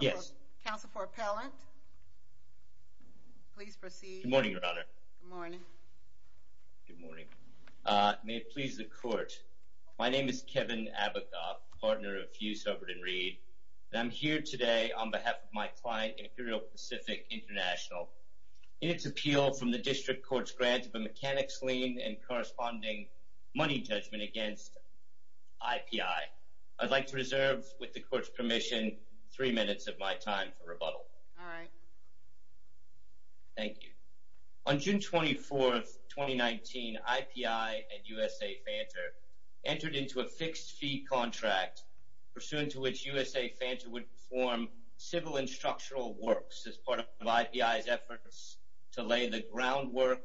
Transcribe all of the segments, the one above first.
Yes. Counsel for Appellant, please proceed. Good morning, Your Honor. Good morning. Good morning. May it please the Court, my name is Kevin Abagoff, partner of Hughes, Hubbard & Reed, and I'm here today on behalf of my client, Imperial Pacific International, in its appeal from the District Court's grant of a mechanics lien and corresponding money judgment against IPI. I'd like to reserve, with the Court's permission, three minutes of my time for rebuttal. All right. Thank you. On June 24, 2019, IPI and U.S.A. Fanter entered into a fixed-fee contract, pursuant to which U.S.A. Fanter would perform civil and structural works as part of IPI's efforts to lay the groundwork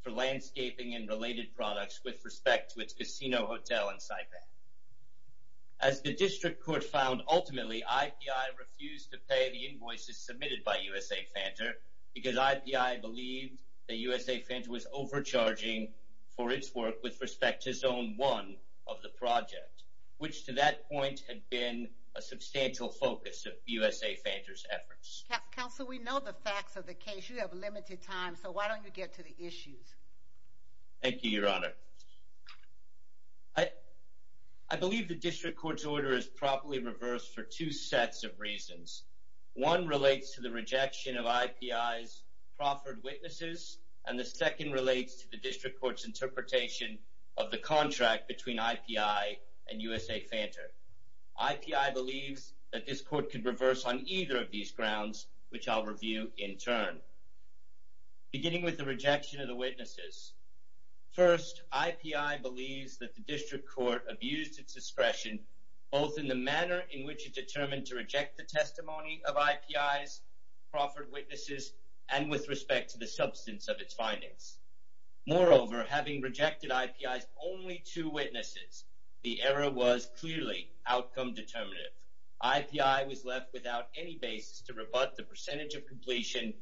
for landscaping and related products with respect to its casino hotel in Saipan. As the District Court found, ultimately, IPI refused to pay the invoices submitted by U.S.A. Fanter because IPI believed that U.S.A. Fanter was overcharging for its work with respect to Zone 1 of the project, which to that point had been a substantial focus of U.S.A. Fanter's efforts. Counsel, we know the facts of the case. You have limited time, so why don't you get to the issues? Thank you, Your Honor. I believe the District Court's order is properly reversed for two sets of reasons. One relates to the rejection of IPI's proffered witnesses, and the second relates to the District Court's interpretation of the contract between IPI and U.S.A. Fanter. IPI believes that this Court could reverse on either of these grounds, which I'll review in turn. Beginning with the rejection of the witnesses. First, IPI believes that the District Court abused its discretion, both in the manner in which it determined to reject the testimony of IPI's proffered witnesses and with respect to the substance of its findings. Moreover, having rejected IPI's only two witnesses, the error was clearly outcome-determinative. IPI was left without any basis to rebut the percentage of completion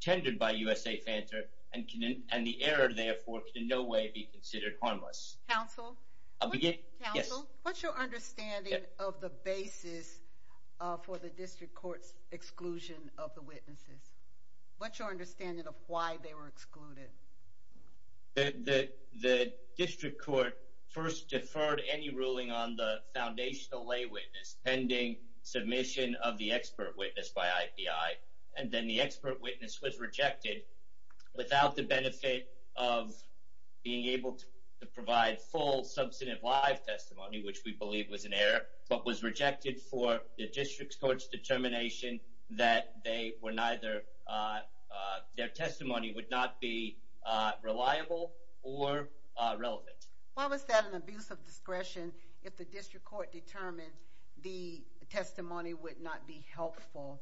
tendered by U.S.A. Fanter, and the error, therefore, can in no way be considered harmless. Counsel, what's your understanding of the basis for the District Court's exclusion of the witnesses? What's your understanding of why they were excluded? The District Court first deferred any ruling on the foundational lay witness pending submission of the expert witness by IPI, and then the expert witness was rejected without the benefit of being able to provide full substantive live testimony, which we believe was an error, but was rejected for the District Court's determination that they were neither their testimony would not be reliable or relevant. Why was that an abuse of discretion if the District Court determined the testimony would not be helpful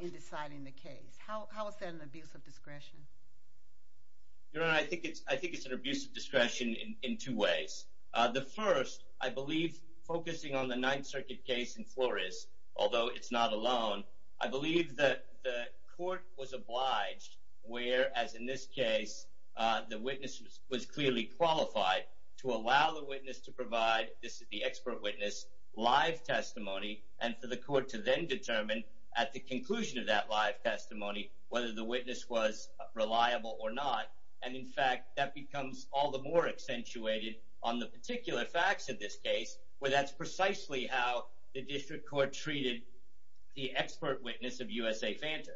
in deciding the case? How is that an abuse of discretion? Your Honor, I think it's an abuse of discretion in two ways. The first, I believe, focusing on the Ninth Circuit case in Flores, although it's not alone, I believe that the court was obliged, whereas in this case the witness was clearly qualified, to allow the witness to provide, this is the expert witness, live testimony, and for the court to then determine at the conclusion of that live testimony whether the witness was reliable or not. And, in fact, that becomes all the more accentuated on the particular facts of this case, where that's precisely how the District Court treated the expert witness of U.S.A. Fanta.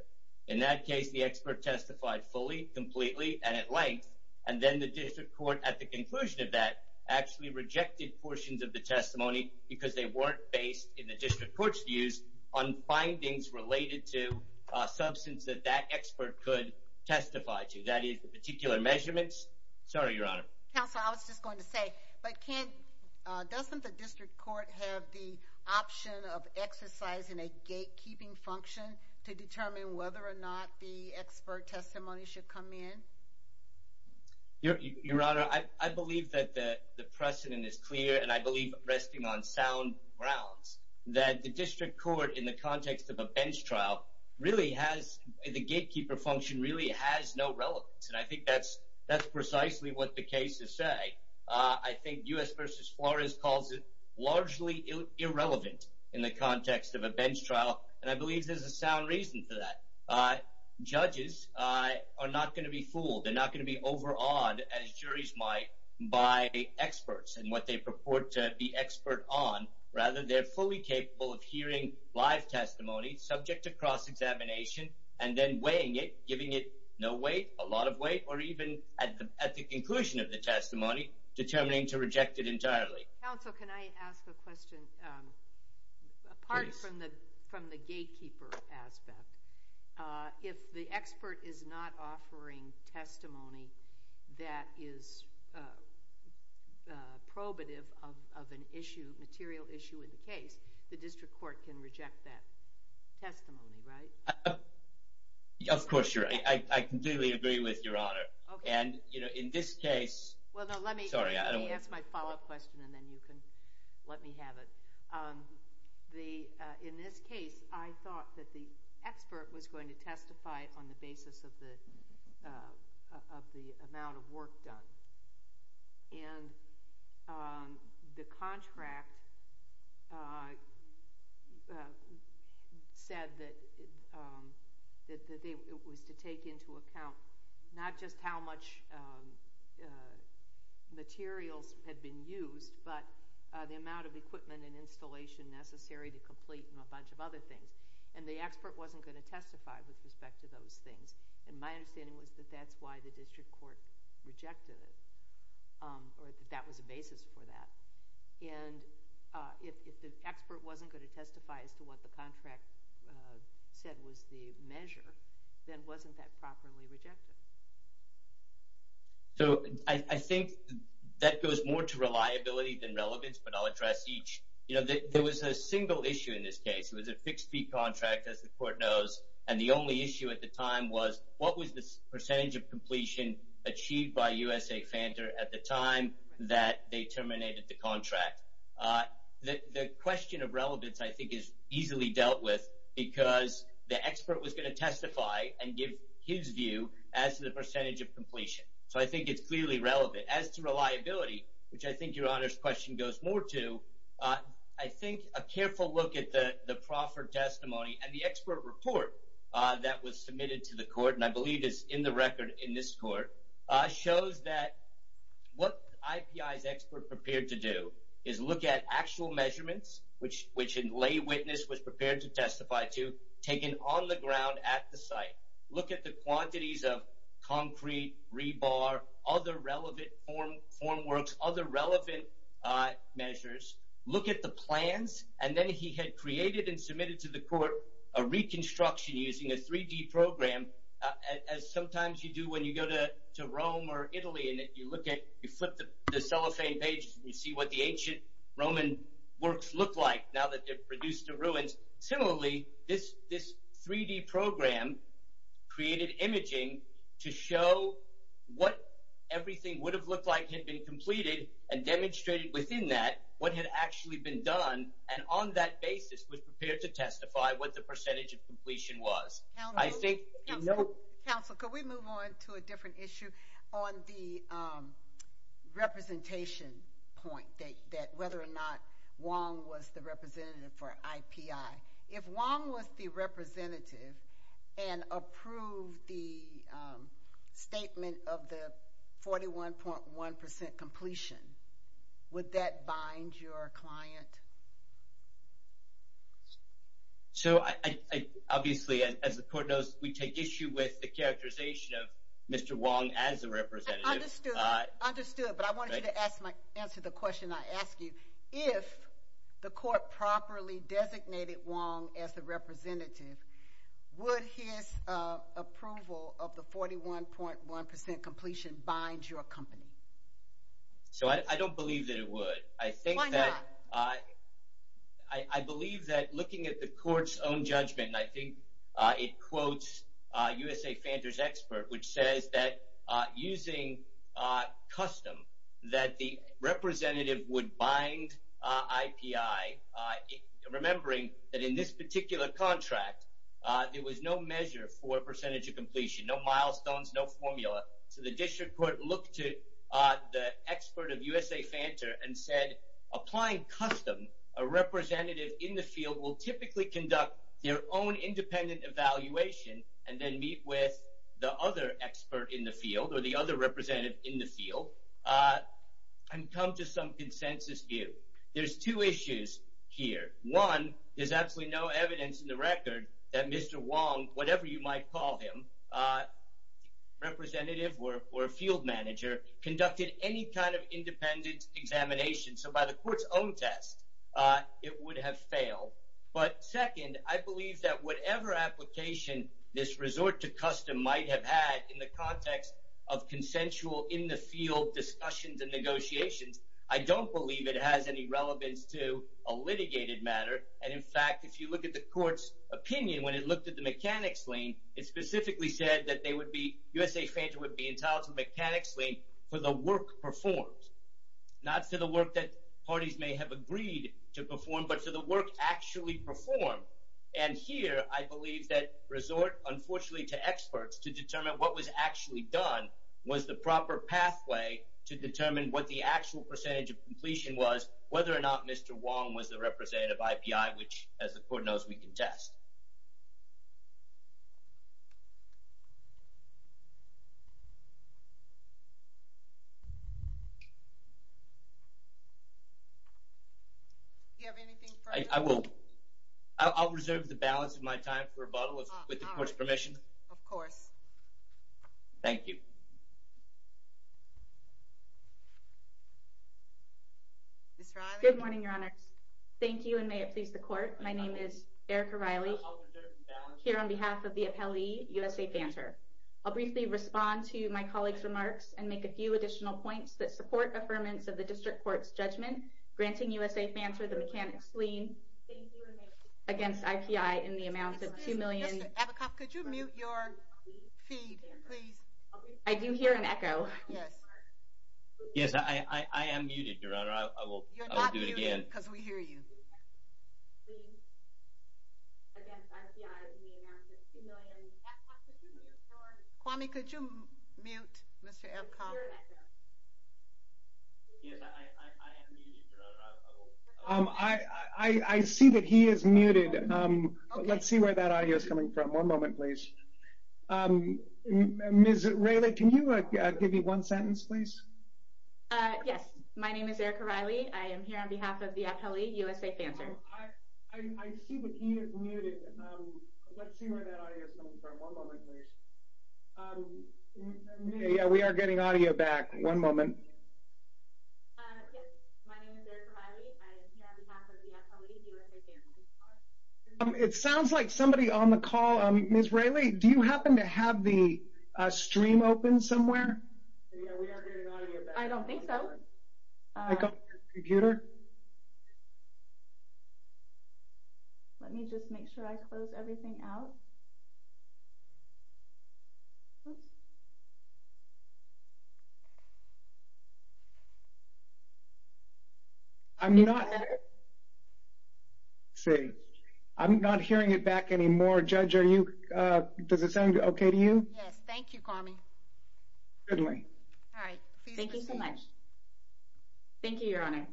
In that case, the expert testified fully, completely, and at length, and then the District Court, at the conclusion of that, actually rejected portions of the testimony because they weren't based, in the District Court's views, on findings related to a substance that that expert could testify to. That is, the particular measurements. Sorry, Your Honor. Counsel, I was just going to say, but doesn't the District Court have the option of exercising a gatekeeping function to determine whether or not the expert testimony should come in? Your Honor, I believe that the precedent is clear, and I believe, resting on sound grounds, that the District Court, in the context of a bench trial, really has, the gatekeeper function really has no relevance. And I think that's precisely what the cases say. I think U.S. v. Flores calls it largely irrelevant in the context of a bench trial, and I believe there's a sound reason for that. Judges are not going to be fooled. They're not going to be overawed, as juries might, by experts and what they purport to be expert on. Rather, they're fully capable of hearing live testimony, subject to cross-examination, and then weighing it, giving it no weight, a lot of weight, or even, at the conclusion of the testimony, determining to reject it entirely. Counsel, can I ask a question? Apart from the gatekeeper aspect, if the expert is not offering testimony that is probative of an issue, a material issue in the case, the District Court can reject that testimony, right? Of course, Your Honor. I completely agree with Your Honor. Okay. And, you know, in this case— Well, no, let me ask my follow-up question, and then you can let me have it. In this case, I thought that the expert was going to testify on the basis of the amount of work done. And the contract said that it was to take into account not just how much materials had been used, but the amount of equipment and installation necessary to complete and a bunch of other things. And the expert wasn't going to testify with respect to those things. And my understanding was that that's why the District Court rejected it, or that that was the basis for that. And if the expert wasn't going to testify as to what the contract said was the measure, then wasn't that properly rejected? So I think that goes more to reliability than relevance, but I'll address each. You know, there was a single issue in this case. It was a fixed-fee contract, as the Court knows. And the only issue at the time was what was the percentage of completion achieved by USA Fanter at the time that they terminated the contract. The question of relevance, I think, is easily dealt with because the expert was going to testify and give his view as to the percentage of completion. So I think it's clearly relevant. As to reliability, which I think Your Honor's question goes more to, I think a careful look at the proffer testimony and the expert report that was submitted to the Court, and I believe is in the record in this Court, shows that what IPI's expert prepared to do is look at actual measurements, which a lay witness was prepared to testify to, taken on the ground at the site, look at the quantities of concrete, rebar, other relevant formworks, other relevant measures, look at the plans, and then he had created and submitted to the Court a reconstruction using a 3D program, as sometimes you do when you go to Rome or Italy and you flip the cellophane pages and you see what the ancient Roman works look like now that they're produced to ruins. Similarly, this 3D program created imaging to show what everything would have looked like had been completed and demonstrated within that what had actually been done, and on that basis was prepared to testify what the percentage of completion was. Counsel, could we move on to a different issue on the representation point, that whether or not Wong was the representative for IPI. If Wong was the representative and approved the statement of the 41.1% completion, would that bind your client? So, obviously, as the Court knows, we take issue with the characterization of Mr. Wong as a representative. Understood, understood, but I wanted you to answer the question I asked you. If the Court properly designated Wong as the representative, would his approval of the 41.1% completion bind your company? So, I don't believe that it would. Why not? I believe that looking at the Court's own judgment, I think it quotes USA Fanter's expert, which says that using custom, that the representative would bind IPI, remembering that in this particular contract, there was no measure for percentage of completion, no milestones, no formula. So, the District Court looked to the expert of USA Fanter and said, applying custom, a representative in the field will typically conduct their own independent evaluation and then meet with the other expert in the field or the other representative in the field and come to some consensus view. There's two issues here. One, there's absolutely no evidence in the record that Mr. Wong, whatever you might call him, representative or a field manager, conducted any kind of independent examination. So, by the Court's own test, it would have failed. But second, I believe that whatever application this resort to custom might have had in the context of consensual, in-the-field discussions and negotiations, I don't believe it has any relevance to a litigated matter. And in fact, if you look at the Court's opinion when it looked at the mechanics lien, it specifically said that USA Fanter would be entitled to a mechanics lien for the work performed, not for the work that parties may have agreed to perform, but for the work actually performed. And here, I believe that resort, unfortunately, to experts to determine what was actually done was the proper pathway to determine what the actual percentage of completion was, whether or not Mr. Wong was the representative of IPI, which, as the Court knows, we can test. Do you have anything further? I will. I'll reserve the balance of my time for rebuttal with the Court's permission. Of course. Thank you. Ms. Riley? Good morning, Your Honors. Thank you, and may it please the Court. My name is Erica Riley, here on behalf of the appellee, USA Fanter. I'll briefly respond to my colleagues' remarks and make a few additional points that support affirmance of the District Court's judgment granting USA Fanter the mechanics lien against IPI in the amount of $2 million. Mr. Abacoff, could you mute your feed, please? I do hear an echo. Yes, I am muted, Your Honor. I will do it again. Because we hear you. Kwame, could you mute Mr. Abacoff? I see that he is muted. Let's see where that audio is coming from. One moment, please. Ms. Riley, can you give me one sentence, please? Yes. My name is Erica Riley. I am here on behalf of the appellee, USA Fanter. I see that he is muted. Let's see where that audio is coming from. One moment, please. Yeah, we are getting audio back. One moment. Yes. My name is Erica Riley. I am here on behalf of the appellee, USA Fanter. It sounds like somebody on the call. Ms. Riley, do you happen to have the stream open somewhere? Yeah, we are getting audio back. I don't think so. Let me just make sure I close everything out. I'm not hearing it back anymore. Judge, does it sound okay to you? Yes. Thank you, Kwame. Thank you so much. Thank you, Your Honor.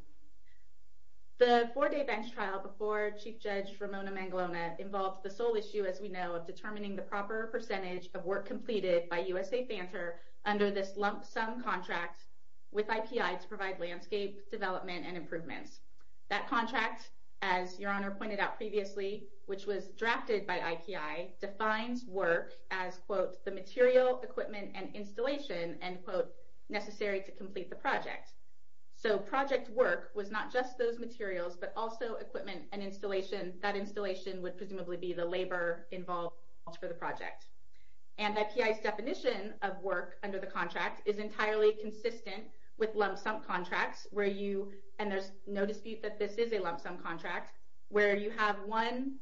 The four-day bench trial before Chief Judge Ramona Mangalona involved the sole issue, as we know, of determining the proper percentage of work completed by USA Fanter under this lump sum contract with IPI to provide landscape development and improvements. That contract, as Your Honor pointed out previously, which was drafted by IPI, defines work as, quote, the material, equipment, and installation, end quote, necessary to complete the project. So project work was not just those materials, but also equipment and installation. That installation would presumably be the labor involved for the project. And IPI's definition of work under the contract is entirely consistent with lump sum contracts, and there's no dispute that this is a lump sum contract, where you have one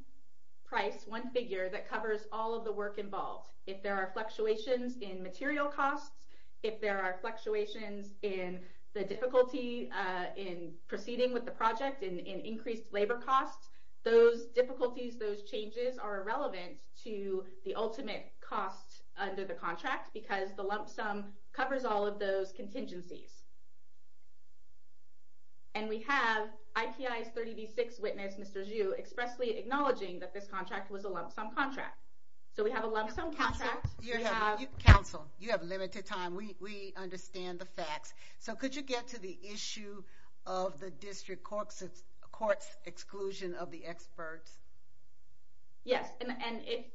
price, one figure, that covers all of the work involved. If there are fluctuations in material costs, if there are fluctuations in the difficulty in proceeding with the project, in increased labor costs, those difficulties, those changes, are irrelevant to the ultimate cost under the contract because the lump sum covers all of those contingencies. And we have IPI's 30B-6 witness, Mr. Zhu, expressly acknowledging that this contract was a lump sum contract. So we have a lump sum contract. Counsel, you have limited time. We understand the facts. So could you get to the issue of the district court's exclusion of the experts? Yes, and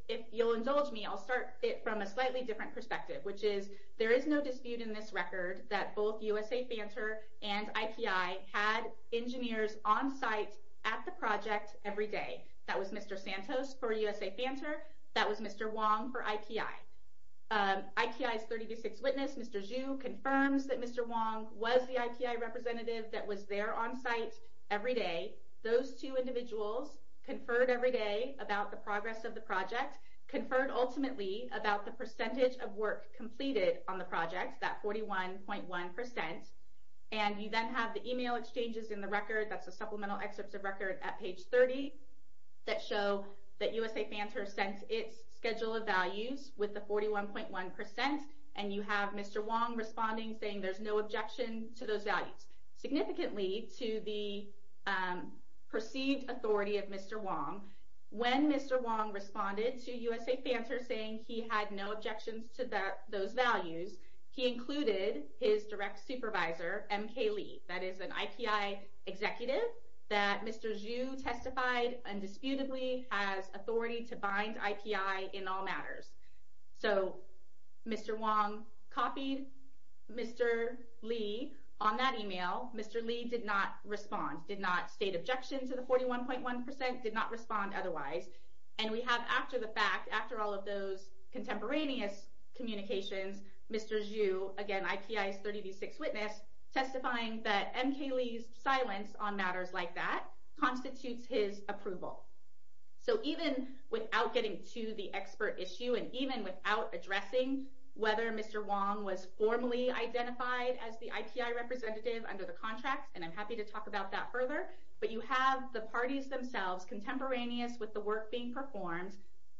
if you'll indulge me, I'll start it from a slightly different perspective, which is there is no dispute in this record that both USA Fanter and IPI had engineers on site at the project every day. That was Mr. Santos for USA Fanter. That was Mr. Wong for IPI. IPI's 30B-6 witness, Mr. Zhu, confirms that Mr. Wong was the IPI representative that was there on site every day. Those two individuals conferred every day about the progress of the project, conferred ultimately about the percentage of work completed on the project, that 41.1%. And you then have the email exchanges in the record, that's a supplemental excerpt of record at page 30, that show that USA Fanter sent its schedule of values with the 41.1%, and you have Mr. Wong responding saying there's no objection to those values, significantly to the perceived authority of Mr. Wong. When Mr. Wong responded to USA Fanter saying he had no objections to those values, he included his direct supervisor, MK Lee, that is an IPI executive that Mr. Zhu testified undisputedly has authority to bind IPI in all matters. So Mr. Wong copied Mr. Lee on that email. Mr. Lee did not respond, did not state objection to the 41.1%, did not respond otherwise. And we have after the fact, after all of those contemporaneous communications, Mr. Zhu, again, IPI's 30B-6 witness, testifying that MK Lee's silence on matters like that constitutes his approval. So even without getting to the expert issue and even without addressing whether Mr. Wong was formally identified as the IPI representative under the contract, and I'm happy to talk about that further, but you have the parties themselves, contemporaneous with the work being performed,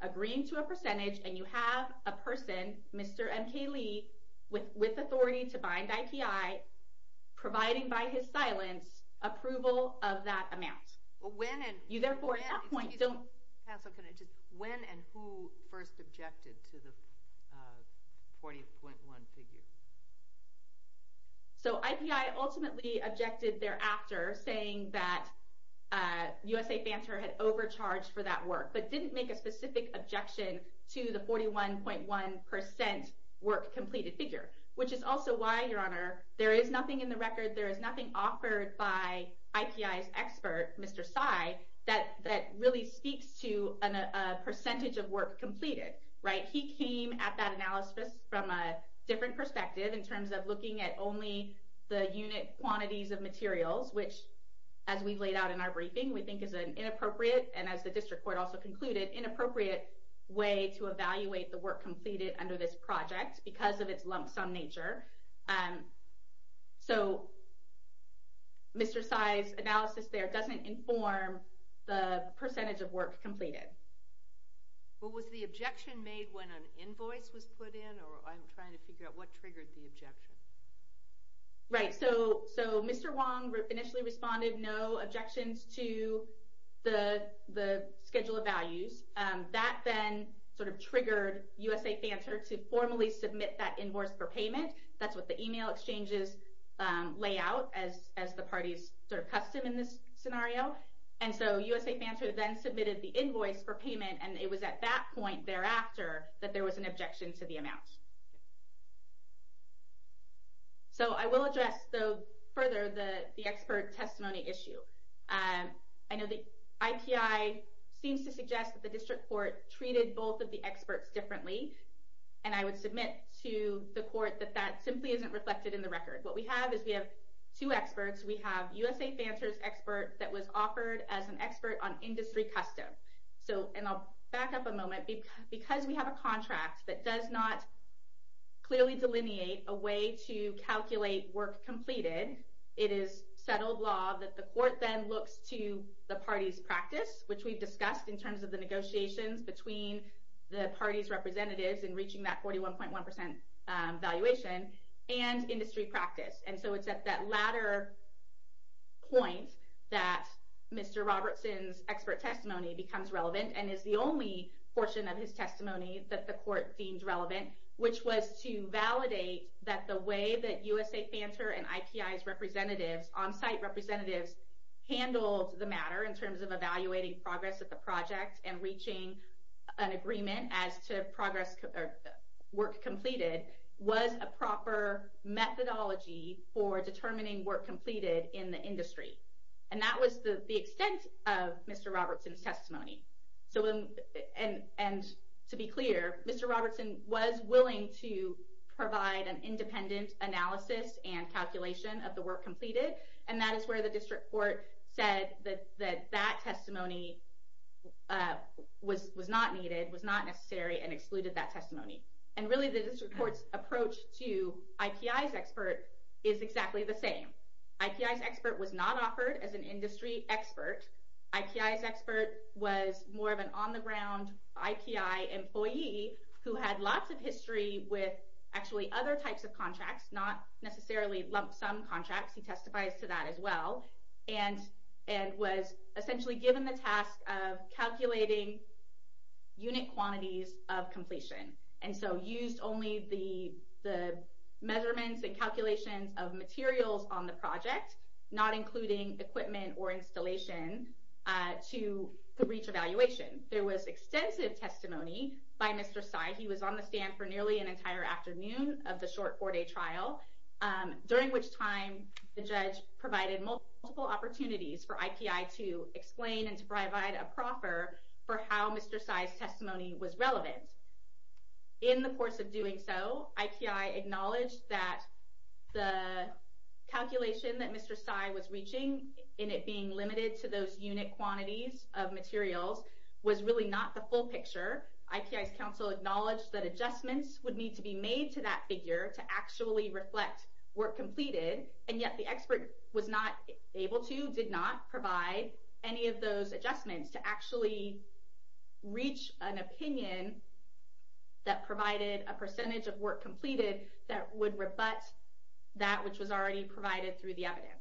agreeing to a percentage, and you have a person, Mr. MK Lee, with authority to bind IPI, providing by his silence approval of that amount. When and who first objected to the 41.1% figure? So IPI ultimately objected thereafter, saying that USA Fanter had overcharged for that work, but didn't make a specific objection to the 41.1% work completed figure, which is also why, Your Honor, there is nothing in the record, there is nothing offered by IPI's expert, Mr. Tsai, that really speaks to a percentage of work completed, right? He came at that analysis from a different perspective in terms of looking at only the unit quantities of materials, which, as we've laid out in our briefing, we think is an inappropriate, and as the district court also concluded, inappropriate way to evaluate the work completed under this project because of its lump sum nature. So Mr. Tsai's analysis there doesn't inform the percentage of work completed. Well, was the objection made when an invoice was put in, or I'm trying to figure out what triggered the objection. Right, so Mr. Wong initially responded no objections to the schedule of values. That then sort of triggered USA Fanter to formally submit that invoice for payment, that's what the email exchanges lay out as the parties sort of custom in this scenario. And so USA Fanter then submitted the invoice for payment, and it was at that point thereafter that there was an objection to the amount. So I will address further the expert testimony issue. I know the IPI seems to suggest that the district court treated both of the experts differently, and I would submit to the court that that simply isn't reflected in the record. What we have is we have two experts. We have USA Fanter's expert that was offered as an expert on industry custom. And I'll back up a moment. Because we have a contract that does not clearly delineate a way to calculate work completed, it is settled law that the court then looks to the party's practice, which we've discussed in terms of the negotiations between the party's representatives in reaching that 41.1% valuation, and industry practice. And so it's at that latter point that Mr. Robertson's expert testimony becomes relevant and is the only portion of his testimony that the court deemed relevant, which was to validate that the way that USA Fanter and IPI's representatives, on-site representatives, handled the matter in terms of evaluating progress of the project and reaching an agreement as to work completed was a proper methodology for determining work completed in the industry. And that was the extent of Mr. Robertson's testimony. And to be clear, Mr. Robertson was willing to provide an independent analysis and calculation of the work completed. And that is where the district court said that that testimony was not needed, was not necessary, and excluded that testimony. And really the district court's approach to IPI's expert is exactly the same. IPI's expert was not offered as an industry expert. IPI's expert was more of an on-the-ground IPI employee who had lots of history with actually other types of contracts, not necessarily lump-sum contracts. He testifies to that as well. And was essentially given the task of calculating unit quantities of completion and so used only the measurements and calculations of materials on the project, not including equipment or installation to reach evaluation. There was extensive testimony by Mr. Sy. He was on the stand for nearly an entire afternoon of the short four-day trial, during which time the judge provided multiple opportunities for IPI to explain and to provide a proffer for how Mr. Sy's testimony was relevant. In the course of doing so, IPI acknowledged that the calculation that Mr. Sy was reaching in it being limited to those unit quantities of materials was really not the full picture. IPI's counsel acknowledged that adjustments would need to be made to that figure to actually reflect work completed. And yet the expert was not able to, did not provide any of those adjustments to actually reach an opinion that provided a percentage of work completed that would rebut that which was already provided through the evidence.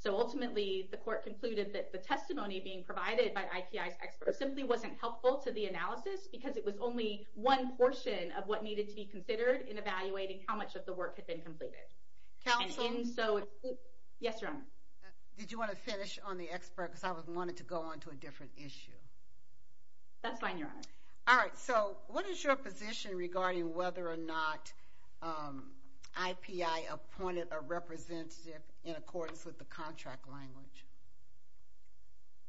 So ultimately, the court concluded that the testimony being provided by IPI's expert simply wasn't helpful to the analysis, because it was only one portion of what needed to be considered in evaluating how much of the work had been completed. Counsel? Yes, Your Honor. Did you want to finish on the expert? Because I wanted to go on to a different issue. That's fine, Your Honor. All right. So what is your position regarding whether or not IPI appointed a representative in accordance with the contract language?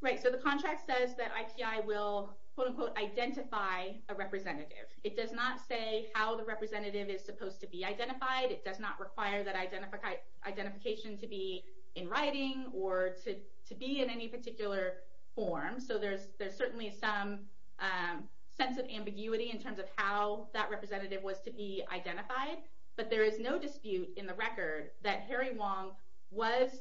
Right. So the contract says that IPI will, quote-unquote, identify a representative. It does not say how the representative is supposed to be identified. It does not require that identification to be in writing or to be in any particular form. So there's certainly some sense of ambiguity in terms of how that representative was to be identified. But there is no dispute in the record that Harry Wong was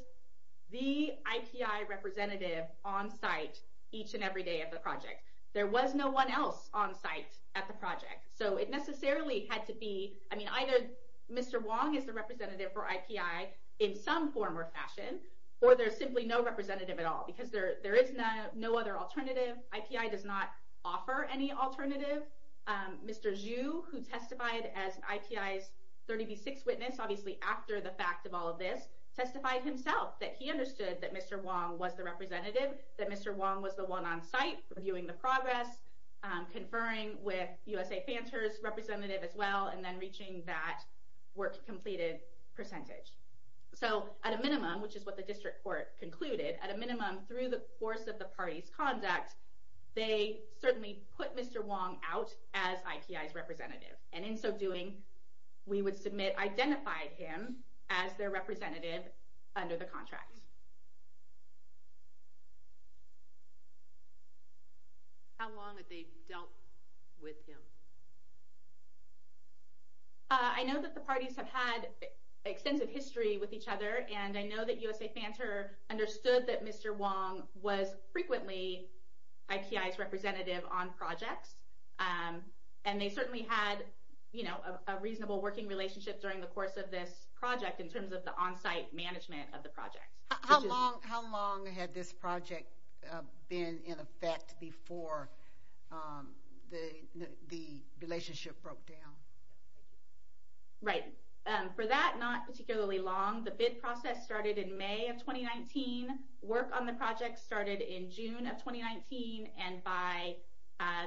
the IPI representative on site each and every day of the project. There was no one else on site at the project. So it necessarily had to be – I mean, either Mr. Wong is the representative for IPI in some form or fashion, or there's simply no representative at all, because there is no other alternative. IPI does not offer any alternative. Mr. Zhu, who testified as IPI's 30B6 witness, obviously after the fact of all of this, testified himself that he understood that Mr. Wong was the representative, that Mr. Wong was the one on site reviewing the progress, conferring with USA Fanter's representative as well, and then reaching that work-completed percentage. So at a minimum, which is what the district court concluded, at a minimum, through the course of the party's conduct, they certainly put Mr. Wong out as IPI's representative. And in so doing, we would submit identifying him as their representative under the contract. How long had they dealt with him? I know that the parties have had extensive history with each other, and I know that USA Fanter understood that Mr. Wong was frequently IPI's representative on projects, and they certainly had a reasonable working relationship during the course of this project in terms of the on-site management of the projects. How long had this project been in effect before the relationship broke down? Right. For that, not particularly long. The bid process started in May of 2019. Work on the project started in June of 2019, and by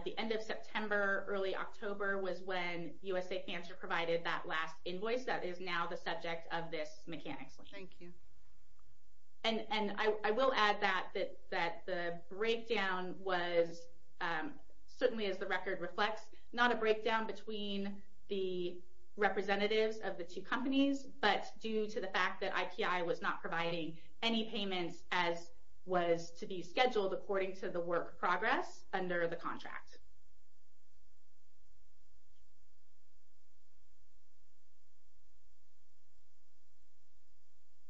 the end of September, early October, was when USA Fanter provided that last invoice that is now the subject of this mechanics. Thank you. And I will add that the breakdown was, certainly as the record reflects, not a breakdown between the representatives of the two companies, but due to the fact that IPI was not providing any payments as was to be scheduled according to the work progress under the contract.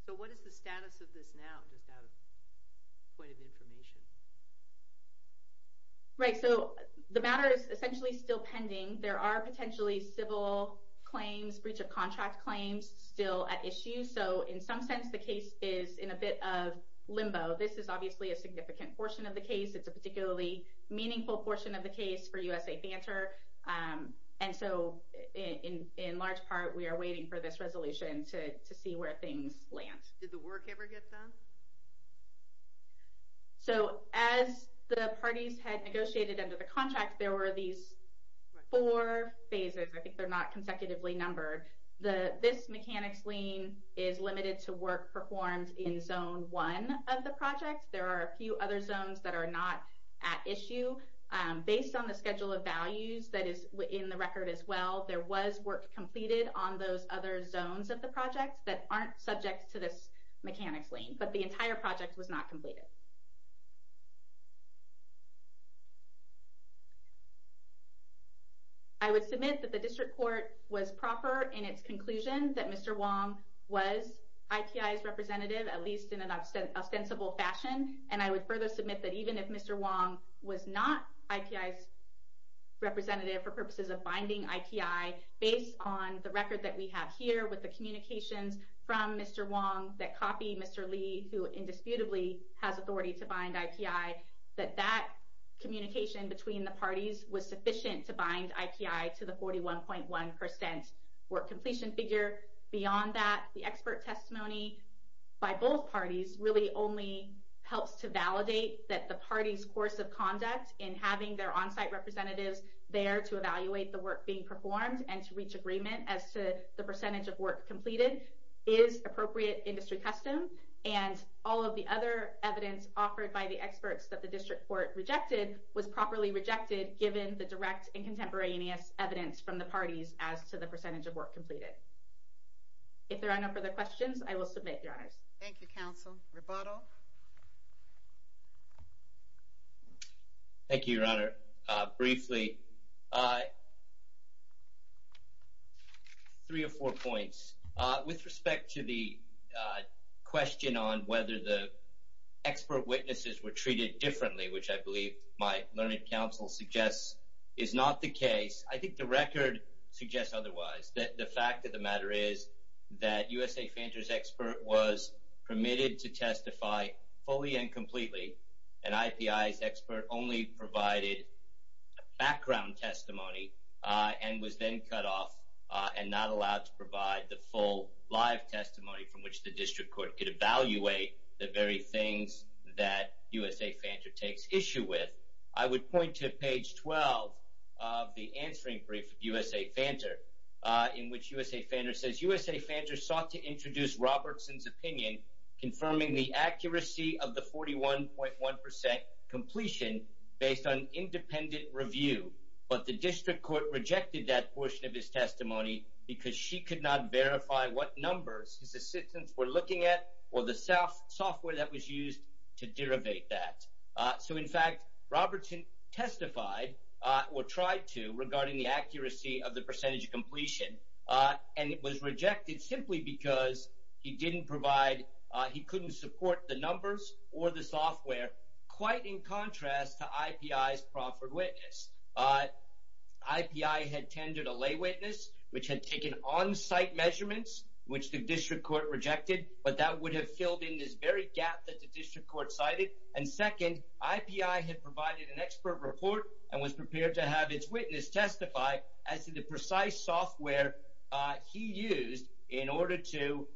So what is the status of this now, just out of point of information? Right. So the matter is essentially still pending. There are potentially civil claims, breach of contract claims still at issue. So in some sense, the case is in a bit of limbo. This is obviously a significant portion of the case. It's a particularly meaningful portion of the case for USA Fanter. And so in large part, we are waiting for this resolution to see where things land. Did the work ever get done? So as the parties had negotiated under the contract, there were these four phases. I think they're not consecutively numbered. This mechanics lien is limited to work performed in Zone 1 of the project. There are a few other zones that are not at issue. Based on the schedule of values that is in the record as well, there was work completed on those other zones of the project that aren't subject to this mechanics lien. But the entire project was not completed. I would submit that the district court was proper in its conclusion that Mr. Wong was IPI's representative, at least in an ostensible fashion. And I would further submit that even if Mr. Wong was not IPI's representative for purposes of binding IPI based on the record that we have here with the communications from Mr. Wong that copy Mr. Lee, who indisputably has authority to bind IPI, that that communication between the parties was sufficient to bind IPI to the 41.1% work completion figure. Beyond that, the expert testimony by both parties really only helps to validate that the party's course of conduct in having their on-site representatives there to evaluate the work being performed and to reach agreement as to the percentage of work completed is appropriate industry custom. And all of the other evidence offered by the experts that the district court rejected was properly rejected given the direct and contemporaneous evidence from the parties as to the percentage of work completed. If there are no further questions, I will submit, Your Honors. Thank you, Your Honor. Briefly, three or four points. With respect to the question on whether the expert witnesses were treated differently, which I believe my learned counsel suggests is not the case, I think the record suggests otherwise. The fact of the matter is that USA Fanter's expert was permitted to testify fully and completely, and IPI's expert only provided background testimony and was then cut off and not allowed to provide the full live testimony from which the district court could evaluate the very things that USA Fanter takes issue with. I would point to page 12 of the answering brief of USA Fanter in which USA Fanter says, USA Fanter sought to introduce Robertson's opinion confirming the accuracy of the 41.1% completion based on independent review. But the district court rejected that portion of his testimony because she could not verify what numbers his assistants were looking at or the software that was used to derivate that. So, in fact, Robertson testified or tried to regarding the accuracy of the percentage completion, and it was rejected simply because he didn't provide, he couldn't support the numbers or the software, quite in contrast to IPI's proffered witness. IPI had tendered a lay witness, which had taken on-site measurements, which the district court rejected, but that would have filled in this very gap that the district court cited. And second, IPI had provided an expert report and was prepared to have its witness testify as to the precise software he used in order to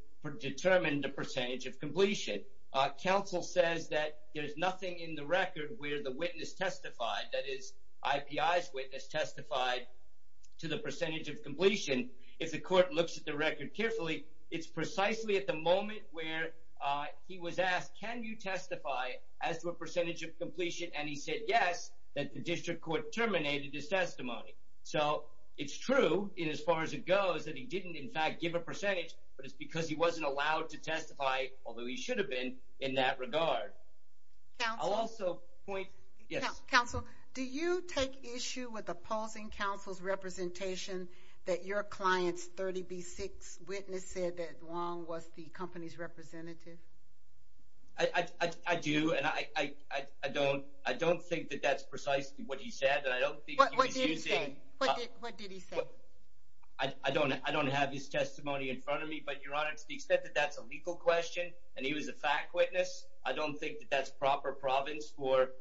determine the percentage of completion. Council says that there's nothing in the record where the witness testified, that is, IPI's witness testified to the percentage of completion. If the court looks at the record carefully, it's precisely at the moment where he was asked, can you testify as to a percentage of completion? And he said yes, that the district court terminated his testimony. So, it's true in as far as it goes that he didn't, in fact, give a percentage, but it's because he wasn't allowed to testify, although he should have been, in that regard. I'll also point, yes. Council, do you take issue with opposing council's representation that your client's 30B6 witness said that Wong was the company's representative? I do, and I don't think that that's precisely what he said. What did he say? I don't have his testimony in front of me, but, Your Honor, to the extent that that's a legal question and he was a fact witness, I don't think that that's proper province for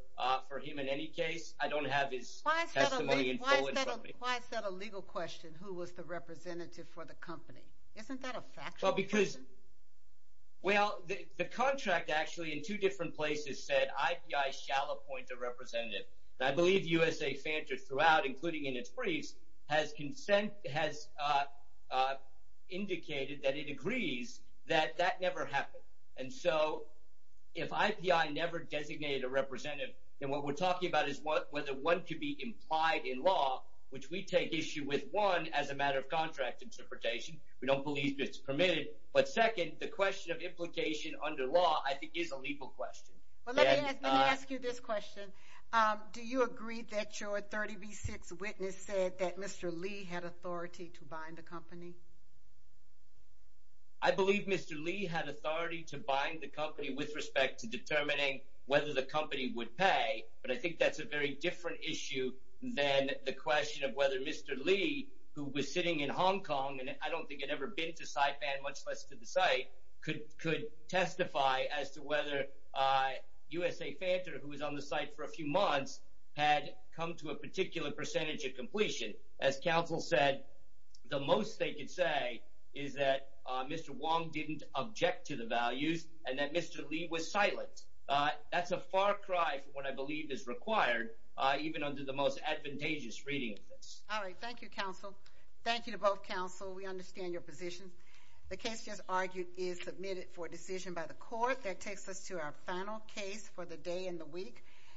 him in any case. I don't have his testimony in full in front of me. Why is that a legal question, who was the representative for the company? Isn't that a factual question? Well, because, well, the contract actually in two different places said IPI shall appoint a representative. And I believe USA Fanta throughout, including in its briefs, has indicated that it agrees that that never happened. And so, if IPI never designated a representative, then what we're talking about is whether one could be implied in law, which we take issue with one as a matter of contract interpretation. We don't believe it's permitted. But second, the question of implication under law I think is a legal question. Well, let me ask you this question. Do you agree that your 30B6 witness said that Mr. Lee had authority to bind the company? I believe Mr. Lee had authority to bind the company with respect to determining whether the company would pay, but I think that's a very different issue than the question of whether Mr. Lee, who was sitting in Hong Kong and I don't think had ever been to Saipan, much less to the site, could testify as to whether USA Fanta, who was on the site for a few months, had come to a particular percentage of completion. As counsel said, the most they could say is that Mr. Wong didn't object to the values and that Mr. Lee was silent. That's a far cry from what I believe is required, even under the most advantageous reading of this. All right. Thank you, counsel. Thank you to both counsel. We understand your position. The case just argued is submitted for decision by the court. That takes us to our final case for the day and the week.